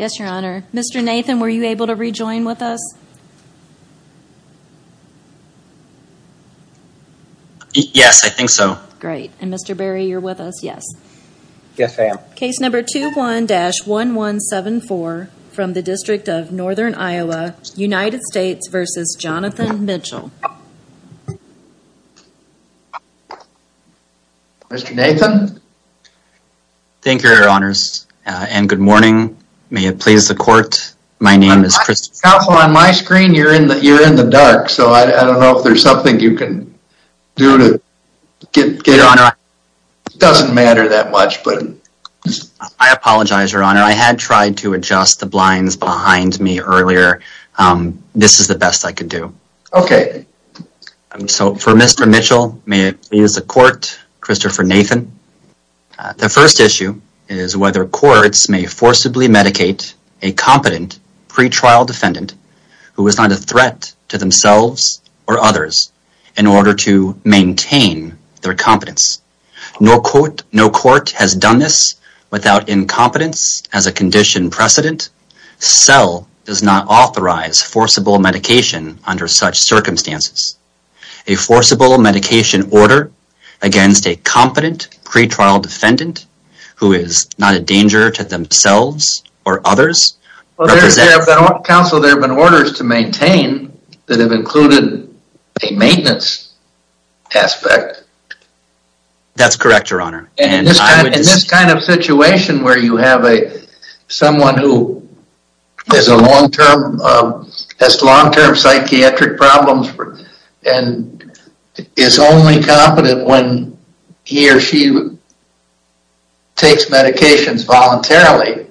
Yes, your honor. Mr. Nathan, were you able to rejoin with us? Yes, I think so. Great. And Mr. Berry, you're with us? Yes. Yes, I am. Case number 21-1174 from the District of Northern Iowa, United States v. Johnathan Mitchell. Mr. Nathan? Thank you, your honors, and good morning. May it please the court, my name is Christopher Nathan. On my screen, you're in the dark, so I don't know if there's something you can do to get... Your honor, I... It doesn't matter that much, but... I apologize, your honor. I had tried to adjust the blinds behind me earlier. This is the best I could do. Okay. So, for Mr. Mitchell, may it please the court, Christopher Nathan. The first issue is whether courts may forcibly medicate a competent pretrial defendant who is not a threat to themselves or others in order to maintain their competence. No court has done this without incompetence as a condition precedent. CEL does not authorize forcible medication under such circumstances. A forcible medication order against a competent pretrial defendant who is not a danger to themselves or others... Counsel, there have been orders to maintain that have included a maintenance aspect. That's correct, your honor. In this kind of situation where you have someone who has long-term psychiatric problems and is only competent when he or she takes medications voluntarily,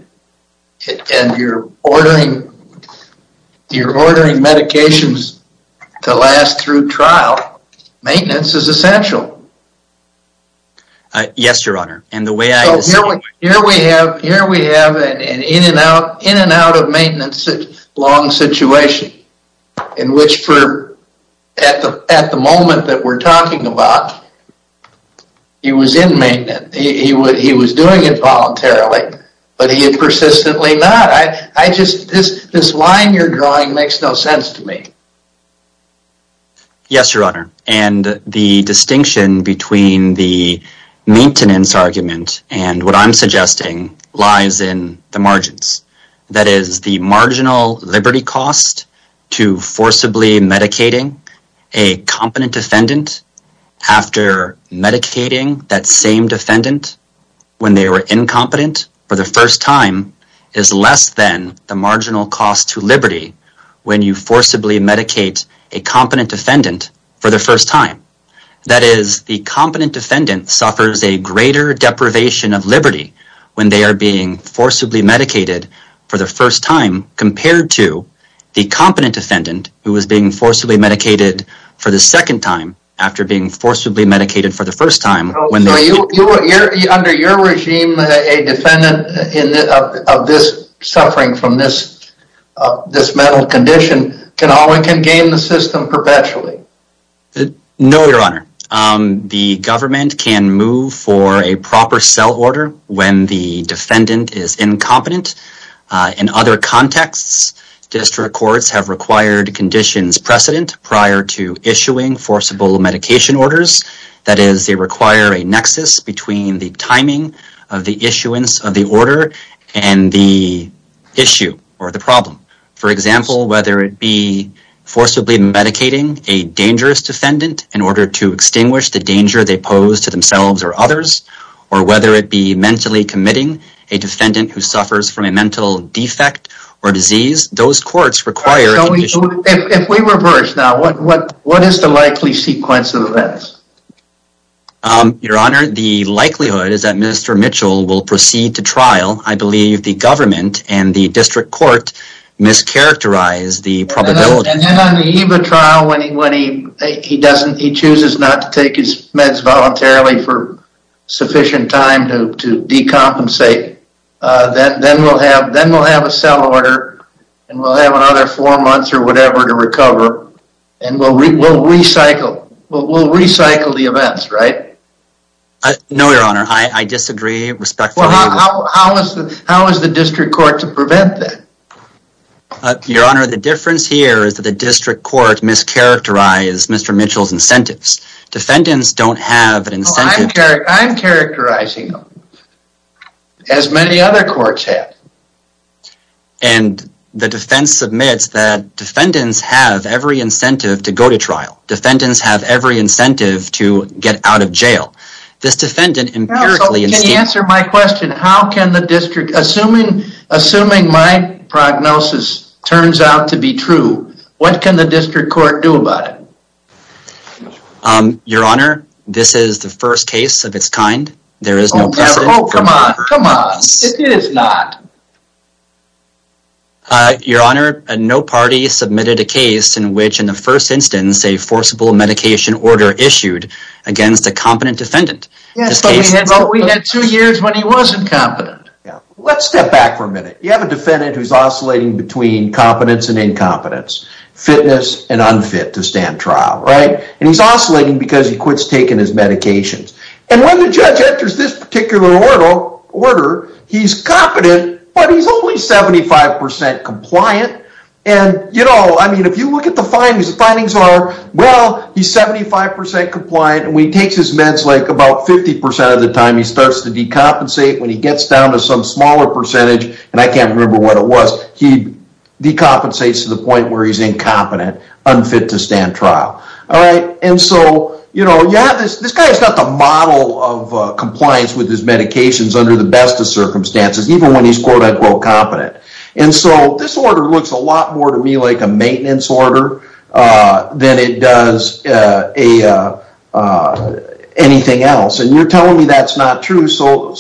and you're ordering medications to last through trial, maintenance is essential. Yes, your honor. And the way I... Here we have an in and out of maintenance long situation in which, at the moment that we're talking about, he was in maintenance. He was doing it voluntarily, but he had persistently not. This line you're drawing makes no sense to me. Yes, your honor. And the distinction between the maintenance argument and what I'm suggesting lies in the margins. That is, the marginal liberty cost to forcibly medicating a competent defendant after medicating that same defendant when they were incompetent for the first time is less than the marginal cost to liberty when you forcibly medicate a competent defendant for the first time. That is, the competent defendant suffers a greater deprivation of liberty when they are being forcibly medicated for the first time compared to the competent defendant who is being forcibly medicated for the second time after being forcibly medicated for the first time. Under your regime, a defendant of this suffering from this mental condition can gain the system perpetually. No, your honor. The government can move for a proper cell order when the defendant is incompetent. In other contexts, district courts have required conditions precedent prior to issuing forcible medication orders. That is, they require a nexus between the timing of the issuance of the order and the issue or the problem. For example, whether it be forcibly medicating a dangerous defendant in order to extinguish the danger they pose to themselves or others, or whether it be mentally committing a defendant who suffers from a mental defect or disease, those courts require... If we reverse now, what is the likely sequence of events? Your honor, the likelihood is that Mr. Mitchell will proceed to trial. I believe the government and the district court mischaracterize the probability. And then on the EVA trial, when he chooses not to take his meds voluntarily for sufficient time to decompensate, then we'll have a cell order and we'll have another four months or whatever to recover. And we'll recycle the events, right? No, your honor. I disagree respectfully. How is the district court to prevent that? Your honor, the difference here is that the district court mischaracterized Mr. Mitchell's incentives. Defendants don't have an incentive... I'm characterizing them as many other courts have. And the defense admits that defendants have every incentive to go to trial. Defendants have every incentive to get out of jail. Counsel, can you answer my question? Assuming my prognosis turns out to be true, what can the district court do about it? Your honor, this is the first case of its kind. There is no precedent... Oh, come on. Come on. It is not. Your honor, no party submitted a case in which in the first instance a forcible medication order issued against a competent defendant. Yes, but we had two years when he wasn't competent. Let's step back for a minute. You have a defendant who is oscillating between competence and incompetence, fitness and unfit to stand trial, right? And he's oscillating because he quits taking his medications. And when the judge enters this particular order, he's competent, but he's only 75% compliant. And, you know, I mean, if you look at the findings, the findings are, well, he's 75% compliant. And when he takes his meds, like about 50% of the time, he starts to decompensate. When he gets down to some smaller percentage, and I can't remember what it was, he decompensates to the point where he's incompetent, unfit to stand trial. All right. And so, you know, yeah, this guy's got the model of compliance with his medications under the best of circumstances, even when he's quote unquote competent. And so this order looks a lot more to me like a maintenance order than it does anything else. And you're telling me that's not true. So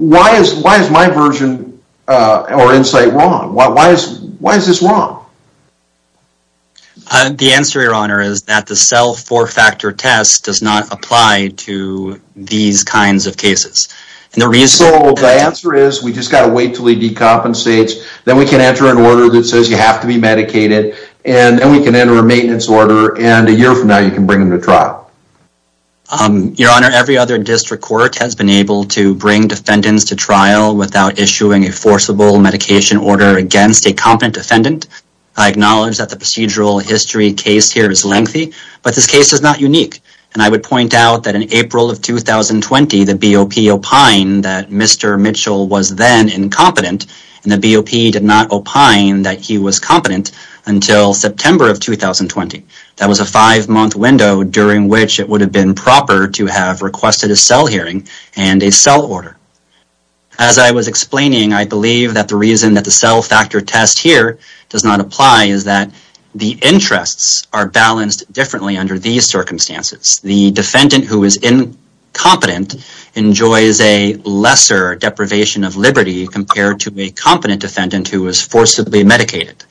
why is my version or insight wrong? Why is this wrong? The answer, Your Honor, is that the self four factor test does not apply to these kinds of cases. And the reason the answer is we just got to wait till he decompensates. Then we can enter an order that says you have to be medicated and then we can enter a maintenance order. And a year from now, you can bring him to trial. Your Honor, every other district court has been able to bring defendants to trial without issuing a forcible medication order against a competent defendant. I acknowledge that the procedural history case here is lengthy, but this case is not unique. And I would point out that in April of 2020, the BOP opined that Mr. Mitchell was then incompetent. And the BOP did not opine that he was competent until September of 2020. That was a five month window during which it would have been proper to have requested a cell hearing and a cell order. As I was explaining, I believe that the reason that the cell factor test here does not apply is that the interests are balanced differently under these circumstances. The defendant who is incompetent enjoys a lesser deprivation of liberty compared to a competent defendant who was forcibly medicated.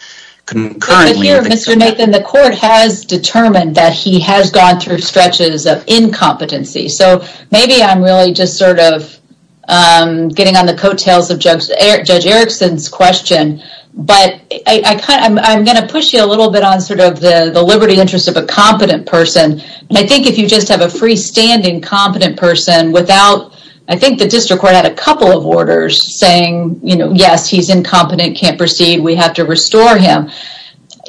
Mr. Nathan, the court has determined that he has gone through stretches of incompetency. So maybe I'm really just sort of getting on the coattails of Judge Erickson's question. But I'm going to push you a little bit on sort of the liberty interest of a competent person. And I think if you just have a freestanding competent person without, I think the district court had a couple of orders saying, you know, yes, he's incompetent, can't proceed, we have to restore him.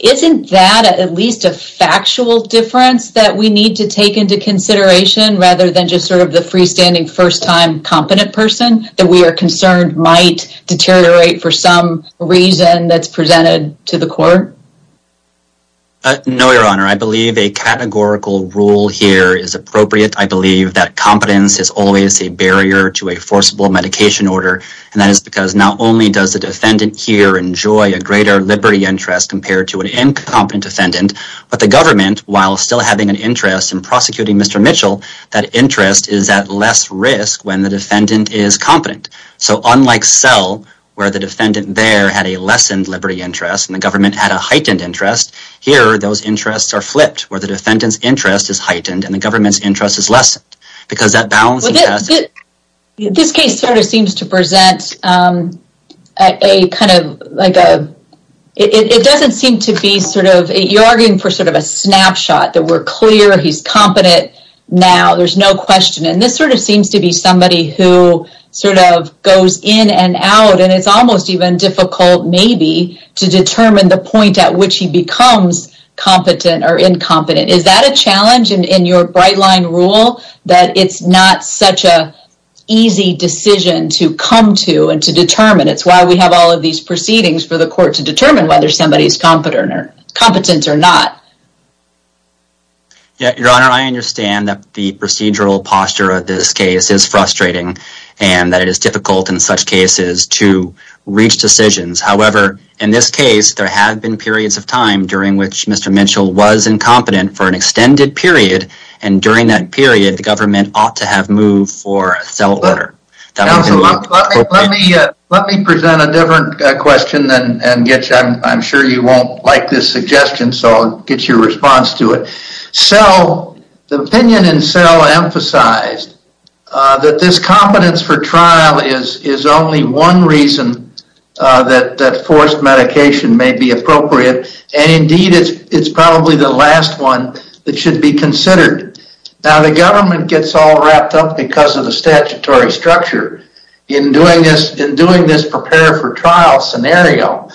Isn't that at least a factual difference that we need to take into consideration rather than just sort of the freestanding first time competent person that we are concerned might deteriorate for some reason that's presented to the court? No, Your Honor. I believe a categorical rule here is appropriate. I believe that competence is always a barrier to a forcible medication order. And that is because not only does the defendant here enjoy a greater liberty interest compared to an incompetent defendant, but the government, while still having an interest in prosecuting Mr. Mitchell, that interest is at less risk when the defendant is competent. So unlike Sell, where the defendant there had a lessened liberty interest and the government had a heightened interest, here those interests are flipped, where the defendant's interest is heightened and the government's interest is lessened. This case sort of seems to present a kind of like a, it doesn't seem to be sort of, you're arguing for sort of a snapshot that we're clear he's competent now, there's no question. And this sort of seems to be somebody who sort of goes in and out and it's almost even difficult maybe to determine the point at which he becomes competent or incompetent. Is that a challenge in your Brightline rule that it's not such a easy decision to come to and to determine? It's why we have all of these proceedings for the court to determine whether somebody's competent or not. Your Honor, I understand that the procedural posture of this case is frustrating and that it is difficult in such cases to reach decisions. However, in this case, there have been periods of time during which Mr. Mitchell was incompetent for an extended period and during that period, the government ought to have moved for a sell order. Let me present a different question and I'm sure you won't like this suggestion so I'll get your response to it. Sell, the opinion in sell emphasized that this competence for trial is only one reason that forced medication may be appropriate and indeed it's probably the last one that should be considered. Now the government gets all wrapped up because of the statutory structure in doing this prepare for trial scenario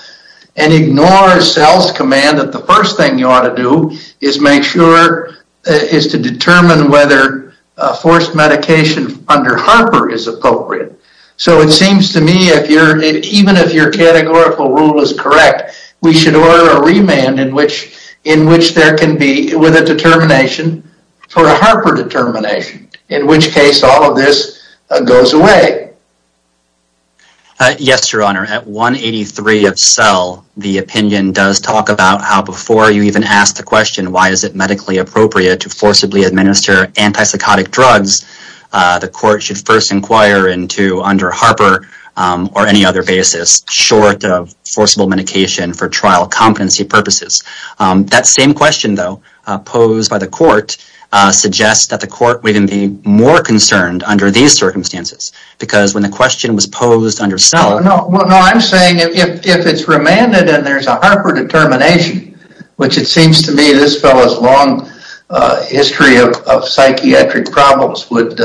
and ignores sell's command that the first thing you ought to do is make sure is to determine whether forced medication under Harper is appropriate. So it seems to me that even if your categorical rule is correct, we should order a remand in which there can be a determination for a Harper determination in which case all of this goes away. Yes, your honor. At 183 of sell, the opinion does talk about how before you even ask the question why is it medically appropriate to forcibly administer antipsychotic drugs, the court should first inquire into under Harper or any other basis short of forcible medication for trial competency purposes. That same question though posed by the court suggests that the court would be more concerned under these circumstances because when the question was posed under sell. No, I'm saying if it's remanded and there's a Harper determination, which it seems to me this fellow's long history of psychiatric problems would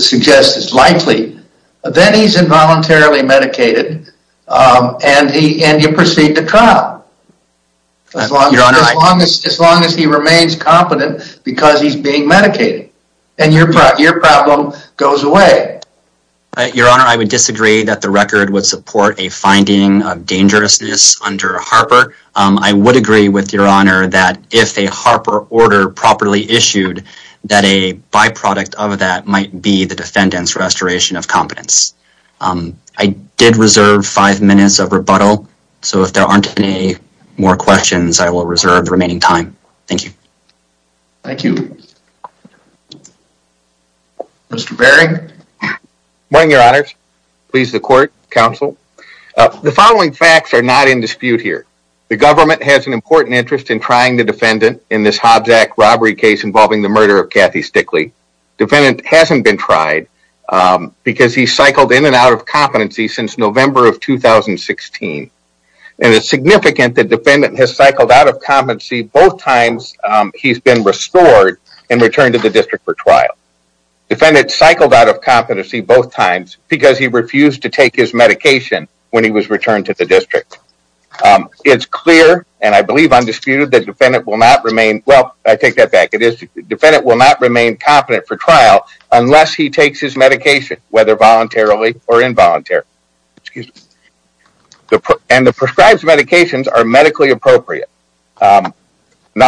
suggest is likely, then he's involuntarily medicated and you proceed to trial as long as he remains competent because he's being medicated and your problem goes away. Your honor, I would disagree that the record would support a finding of dangerousness under Harper. I would agree with your honor that if a Harper order properly issued that a byproduct of that might be the defendants restoration of competence. I did reserve five minutes of rebuttal. So if there aren't any more questions, I will reserve the remaining time. Thank you. Thank you. Mr. Berry. Morning, your honors. Please the court, counsel. The following facts are not in dispute here. The government has an important interest in trying the defendant in this Hobbs Act robbery case involving the murder of Kathy Stickley. Defendant hasn't been tried because he cycled in and out of competency since November of 2016. And it's significant that defendant has cycled out of competency both times he's been restored and returned to the district for trial. Defendant cycled out of competency both times because he refused to take his medication when he was returned to the district. It's clear and I believe undisputed that defendant will not remain, well, I take that back. Defendant will not remain competent for trial unless he takes his medication, whether voluntarily or involuntary. And the prescribed medications are medically appropriate. Now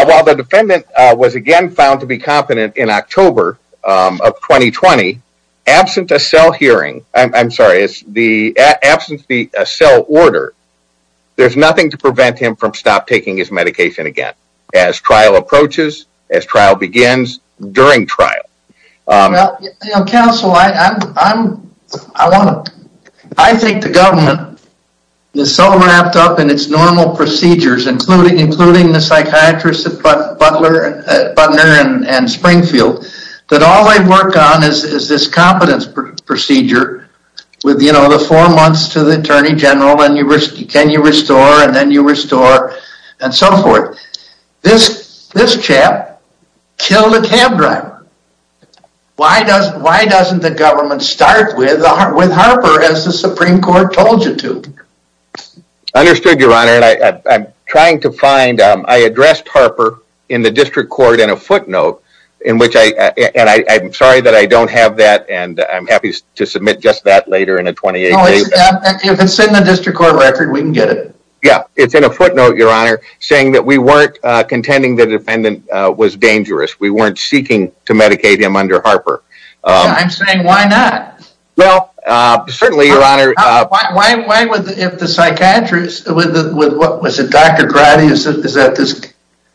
while the defendant was again found to be competent in October of 2020, absent a cell hearing, I'm sorry, absent the cell order, there's nothing to prevent him from stop taking his medication again as trial approaches, as trial begins, during trial. Counsel, I think the government is so wrapped up in its normal procedures, including the psychiatrists at Butler and Springfield, that all they work on is this competence procedure with the four months to the Attorney General and can you restore and then you restore and so forth. This chap killed a cab driver. Why doesn't the government start with Harper as the Supreme Court told you to? Understood, Your Honor. I'm trying to find, I addressed Harper in the district court in a footnote, and I'm sorry that I don't have that and I'm happy to submit just that later in a 28-day. If it's in the district court record, we can get it. Yeah, it's in a footnote, Your Honor, saying that we weren't contending the defendant was dangerous. We weren't seeking to medicate him under Harper. I'm saying why not? Well, certainly, Your Honor. Why would the psychiatrist, was it Dr. Grady?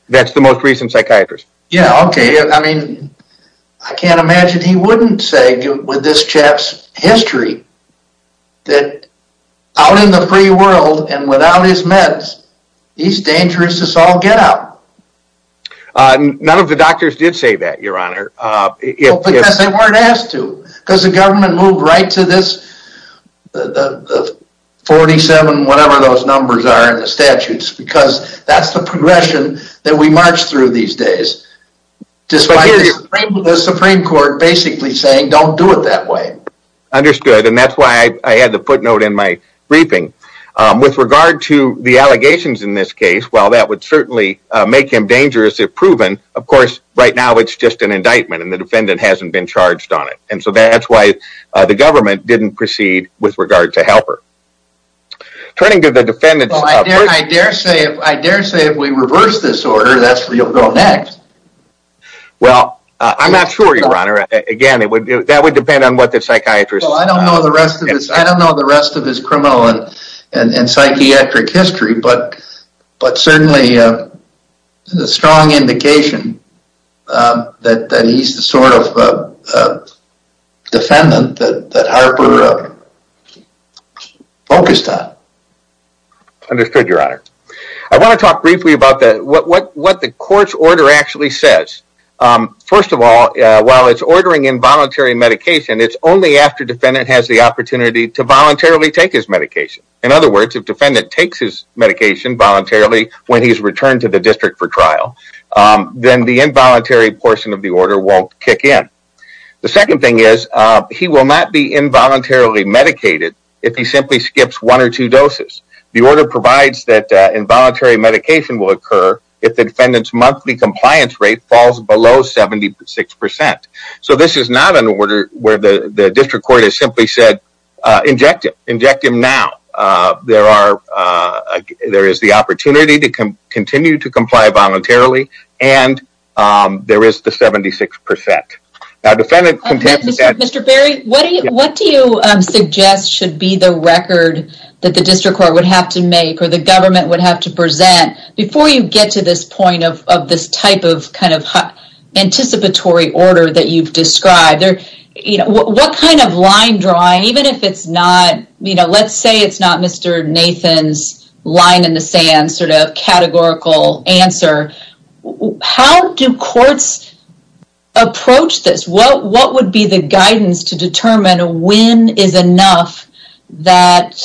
That's the most recent psychiatrist. Yeah, okay. I mean, I can't imagine he wouldn't say with this chap's history that out in the free world and without his meds, he's dangerous as all get out. None of the doctors did say that, Your Honor. Because they weren't asked to. Because the government moved right to this 47, whatever those numbers are in the statutes, because that's the progression that we march through these days. Despite the Supreme Court basically saying don't do it that way. Understood, and that's why I had the footnote in my briefing. With regard to the allegations in this case, while that would certainly make him dangerous if proven, of course, right now it's just an indictment and the defendant hasn't been charged on it. And so that's why the government didn't proceed with regard to Harper. Turning to the defendant's... I dare say if we reverse this order, that's where you'll go next. Well, I'm not sure, Your Honor. Again, that would depend on what the psychiatrist... Well, I don't know the rest of his criminal and psychiatric history, but certainly a strong indication that he's the sort of defendant that Harper focused on. Understood, Your Honor. I want to talk briefly about what the court's order actually says. First of all, while it's ordering involuntary medication, it's only after defendant has the opportunity to voluntarily take his medication. In other words, if defendant takes his medication voluntarily when he's returned to the district for trial, then the involuntary portion of the order won't kick in. The second thing is he will not be involuntarily medicated if he simply skips one or two doses. The order provides that involuntary medication will occur if the defendant's monthly compliance rate falls below 76%. So this is not an order where the district court has simply said, inject him. Inject him now. There is the opportunity to continue to comply voluntarily, and there is the 76%. Mr. Berry, what do you suggest should be the record that the district court would have to make or the government would have to present before you get to this point of this type of anticipatory order that you've described? What kind of line drawing, even if it's not, let's say it's not Mr. Nathan's line in the sand sort of categorical answer, how do courts approach this? What would be the guidance to determine when is enough that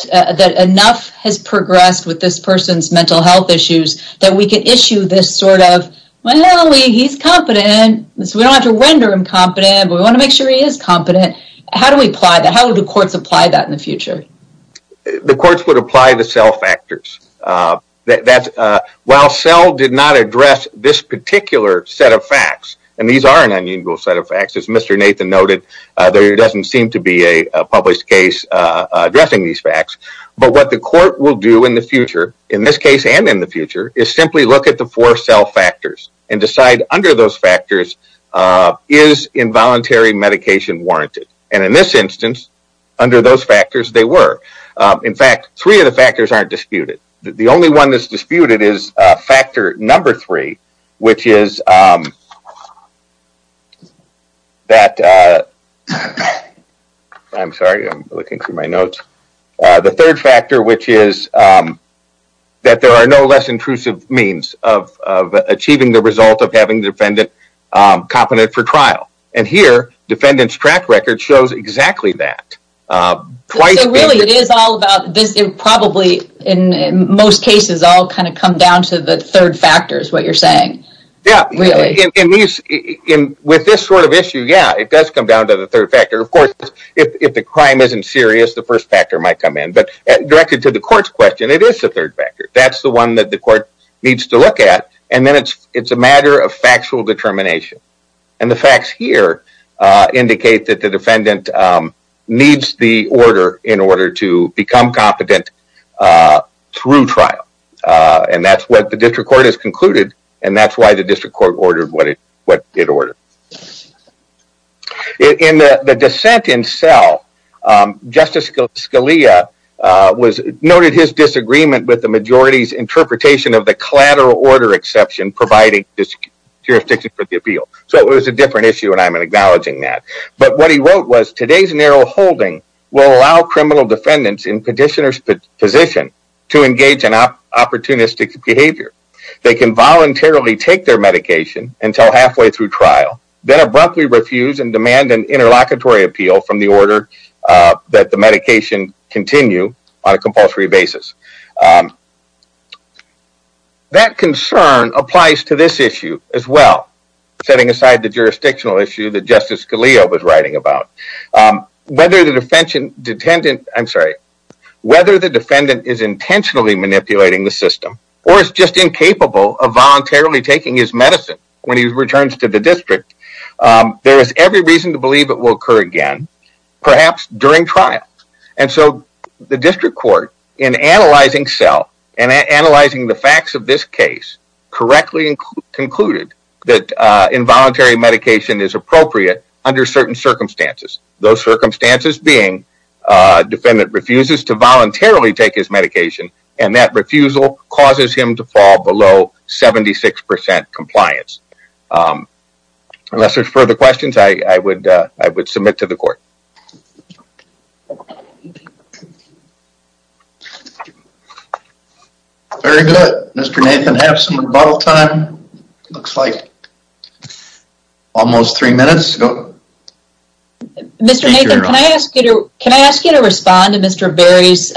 enough has progressed with this person's mental health issues that we can issue this sort of, well, he's competent, so we don't have to render him competent, but we want to make sure he is competent. How do we apply that? How would the courts apply that in the future? The courts would apply the cell factors. While cell did not address this particular set of facts, and these are an unusual set of facts, as Mr. Nathan noted, there doesn't seem to be a published case addressing these facts, but what the court will do in the future, in this case and in the future, is simply look at the four cell factors and decide under those factors, is involuntary medication warranted? And in this instance, under those factors, they were. In fact, three of the factors aren't disputed. The only one that's disputed is factor number three, which is that, I'm sorry, I'm looking through my notes. The third factor, which is that there are no less intrusive means of achieving the result of having the defendant competent for trial. And here, defendant's track record shows exactly that. So really, it is all about this. It probably, in most cases, all kind of come down to the third factor is what you're saying. Yeah. With this sort of issue, yeah, it does come down to the third factor. Of course, if the crime isn't serious, the first factor might come in, but directed to the court's question, it is the third factor. That's the one that the court needs to look at, and then it's a matter of factual determination. And the facts here indicate that the defendant needs the order in order to become competent through trial. And that's what the district court has concluded, and that's why the district court ordered what it ordered. In the dissent in cell, Justice Scalia noted his disagreement with the majority's interpretation of the collateral order exception providing jurisdiction for the appeal. So it was a different issue, and I'm acknowledging that. But what he wrote was, today's narrow holding will allow criminal defendants in petitioner's position to engage in opportunistic behavior. They can voluntarily take their medication until halfway through trial, then abruptly refuse and demand an interlocutory appeal from the order that the medication continue on a compulsory basis. That concern applies to this issue as well, setting aside the jurisdictional issue that Justice Scalia was writing about. Whether the defendant is intentionally manipulating the system, or is just incapable of voluntarily taking his medicine when he returns to the district, there is every reason to believe it will occur again, perhaps during trial. And so the district court, in analyzing cell, and analyzing the facts of this case, correctly concluded that involuntary medication is appropriate under certain circumstances. Those circumstances being, defendant refuses to voluntarily take his medication, and that refusal causes him to fall below 76% compliance. Unless there's further questions, I would submit to the court. Thank you. Very good. Mr. Nathan, we have some rebuttal time. Looks like almost three minutes. Mr. Nathan, can I ask you to respond to Mr. Berry's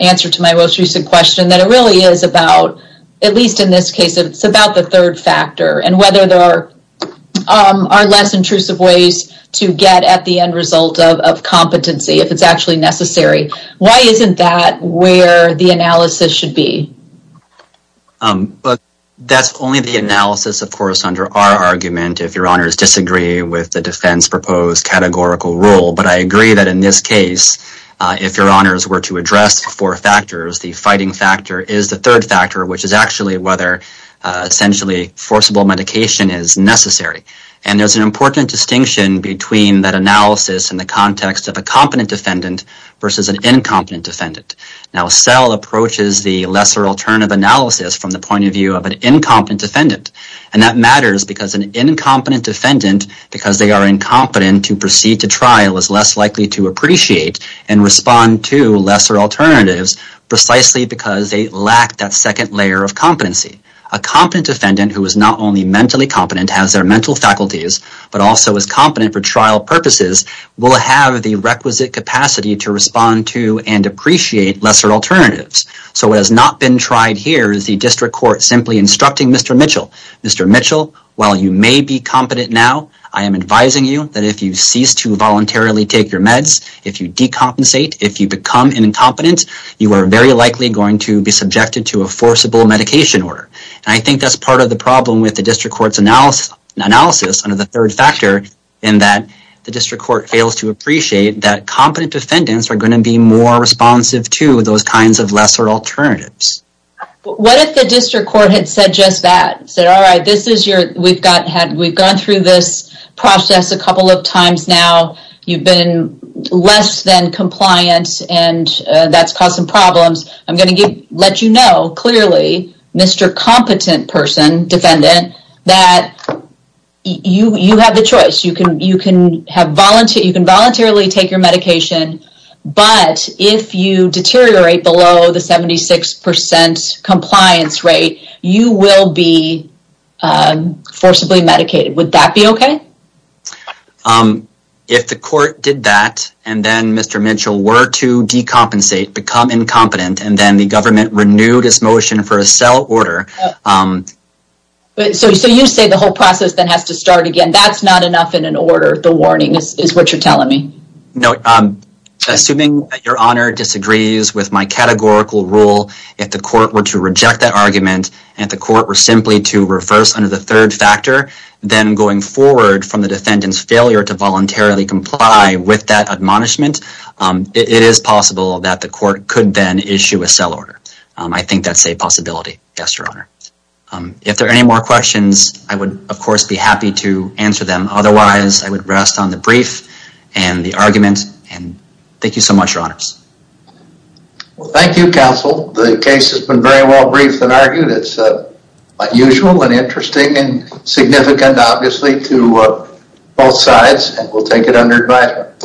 answer to my most recent question? That it really is about, at least in this case, it's about the third factor. And whether there are less intrusive ways to get at the end result of competency, if it's actually necessary. Why isn't that where the analysis should be? That's only the analysis, of course, under our argument, if your honors disagree with the defense proposed categorical rule. But I agree that in this case, if your honors were to address four factors, the fighting factor is the third factor, which is actually whether, essentially, forcible medication is necessary. And there's an important distinction between that analysis in the context of a competent defendant versus an incompetent defendant. Now, cell approaches the lesser alternative analysis from the point of view of an incompetent defendant. And that matters because an incompetent defendant, because they are incompetent to proceed to trial, is less likely to appreciate and respond to lesser alternatives, precisely because they lack that second layer of competency. A competent defendant, who is not only mentally competent, has their mental faculties, but also is competent for trial purposes, will have the requisite capacity to respond to and appreciate lesser alternatives. So what has not been tried here is the district court simply instructing Mr. Mitchell, Mr. Mitchell, while you may be competent now, I am advising you that if you cease to voluntarily take your meds, if you decompensate, if you become an incompetent, you are very likely going to be subjected to a forcible medication order. And I think that's part of the problem with the district court's analysis under the third factor, in that the district court fails to appreciate that competent defendants are going to be more responsive to those kinds of lesser alternatives. What if the district court had said just that? We've gone through this process a couple of times now, you've been less than compliant, and that's caused some problems. I'm going to let you know clearly, Mr. Competent person, defendant, that you have the choice. You can voluntarily take your medication, but if you deteriorate below the 76% compliance rate, you will be forcibly medicated. Would that be okay? If the court did that, and then Mr. Mitchell were to decompensate, become incompetent, and then the government renewed its motion for a cell order. So you say the whole process then has to start again. That's not enough in an order, the warning, is what you're telling me. No, assuming your honor disagrees with my categorical rule, if the court were to reject that argument, and if the court were simply to reverse under the third factor, then going forward from the defendant's failure to voluntarily comply with that admonishment, it is possible that the court could then issue a cell order. I think that's a possibility, yes, your honor. If there are any more questions, I would, of course, be happy to answer them. Otherwise, I would rest on the brief and the argument, and thank you so much, your honors. Well, thank you, counsel. The case has been very well briefed and argued. It's unusual and interesting and significant, obviously, to both sides, and we'll take it under advice.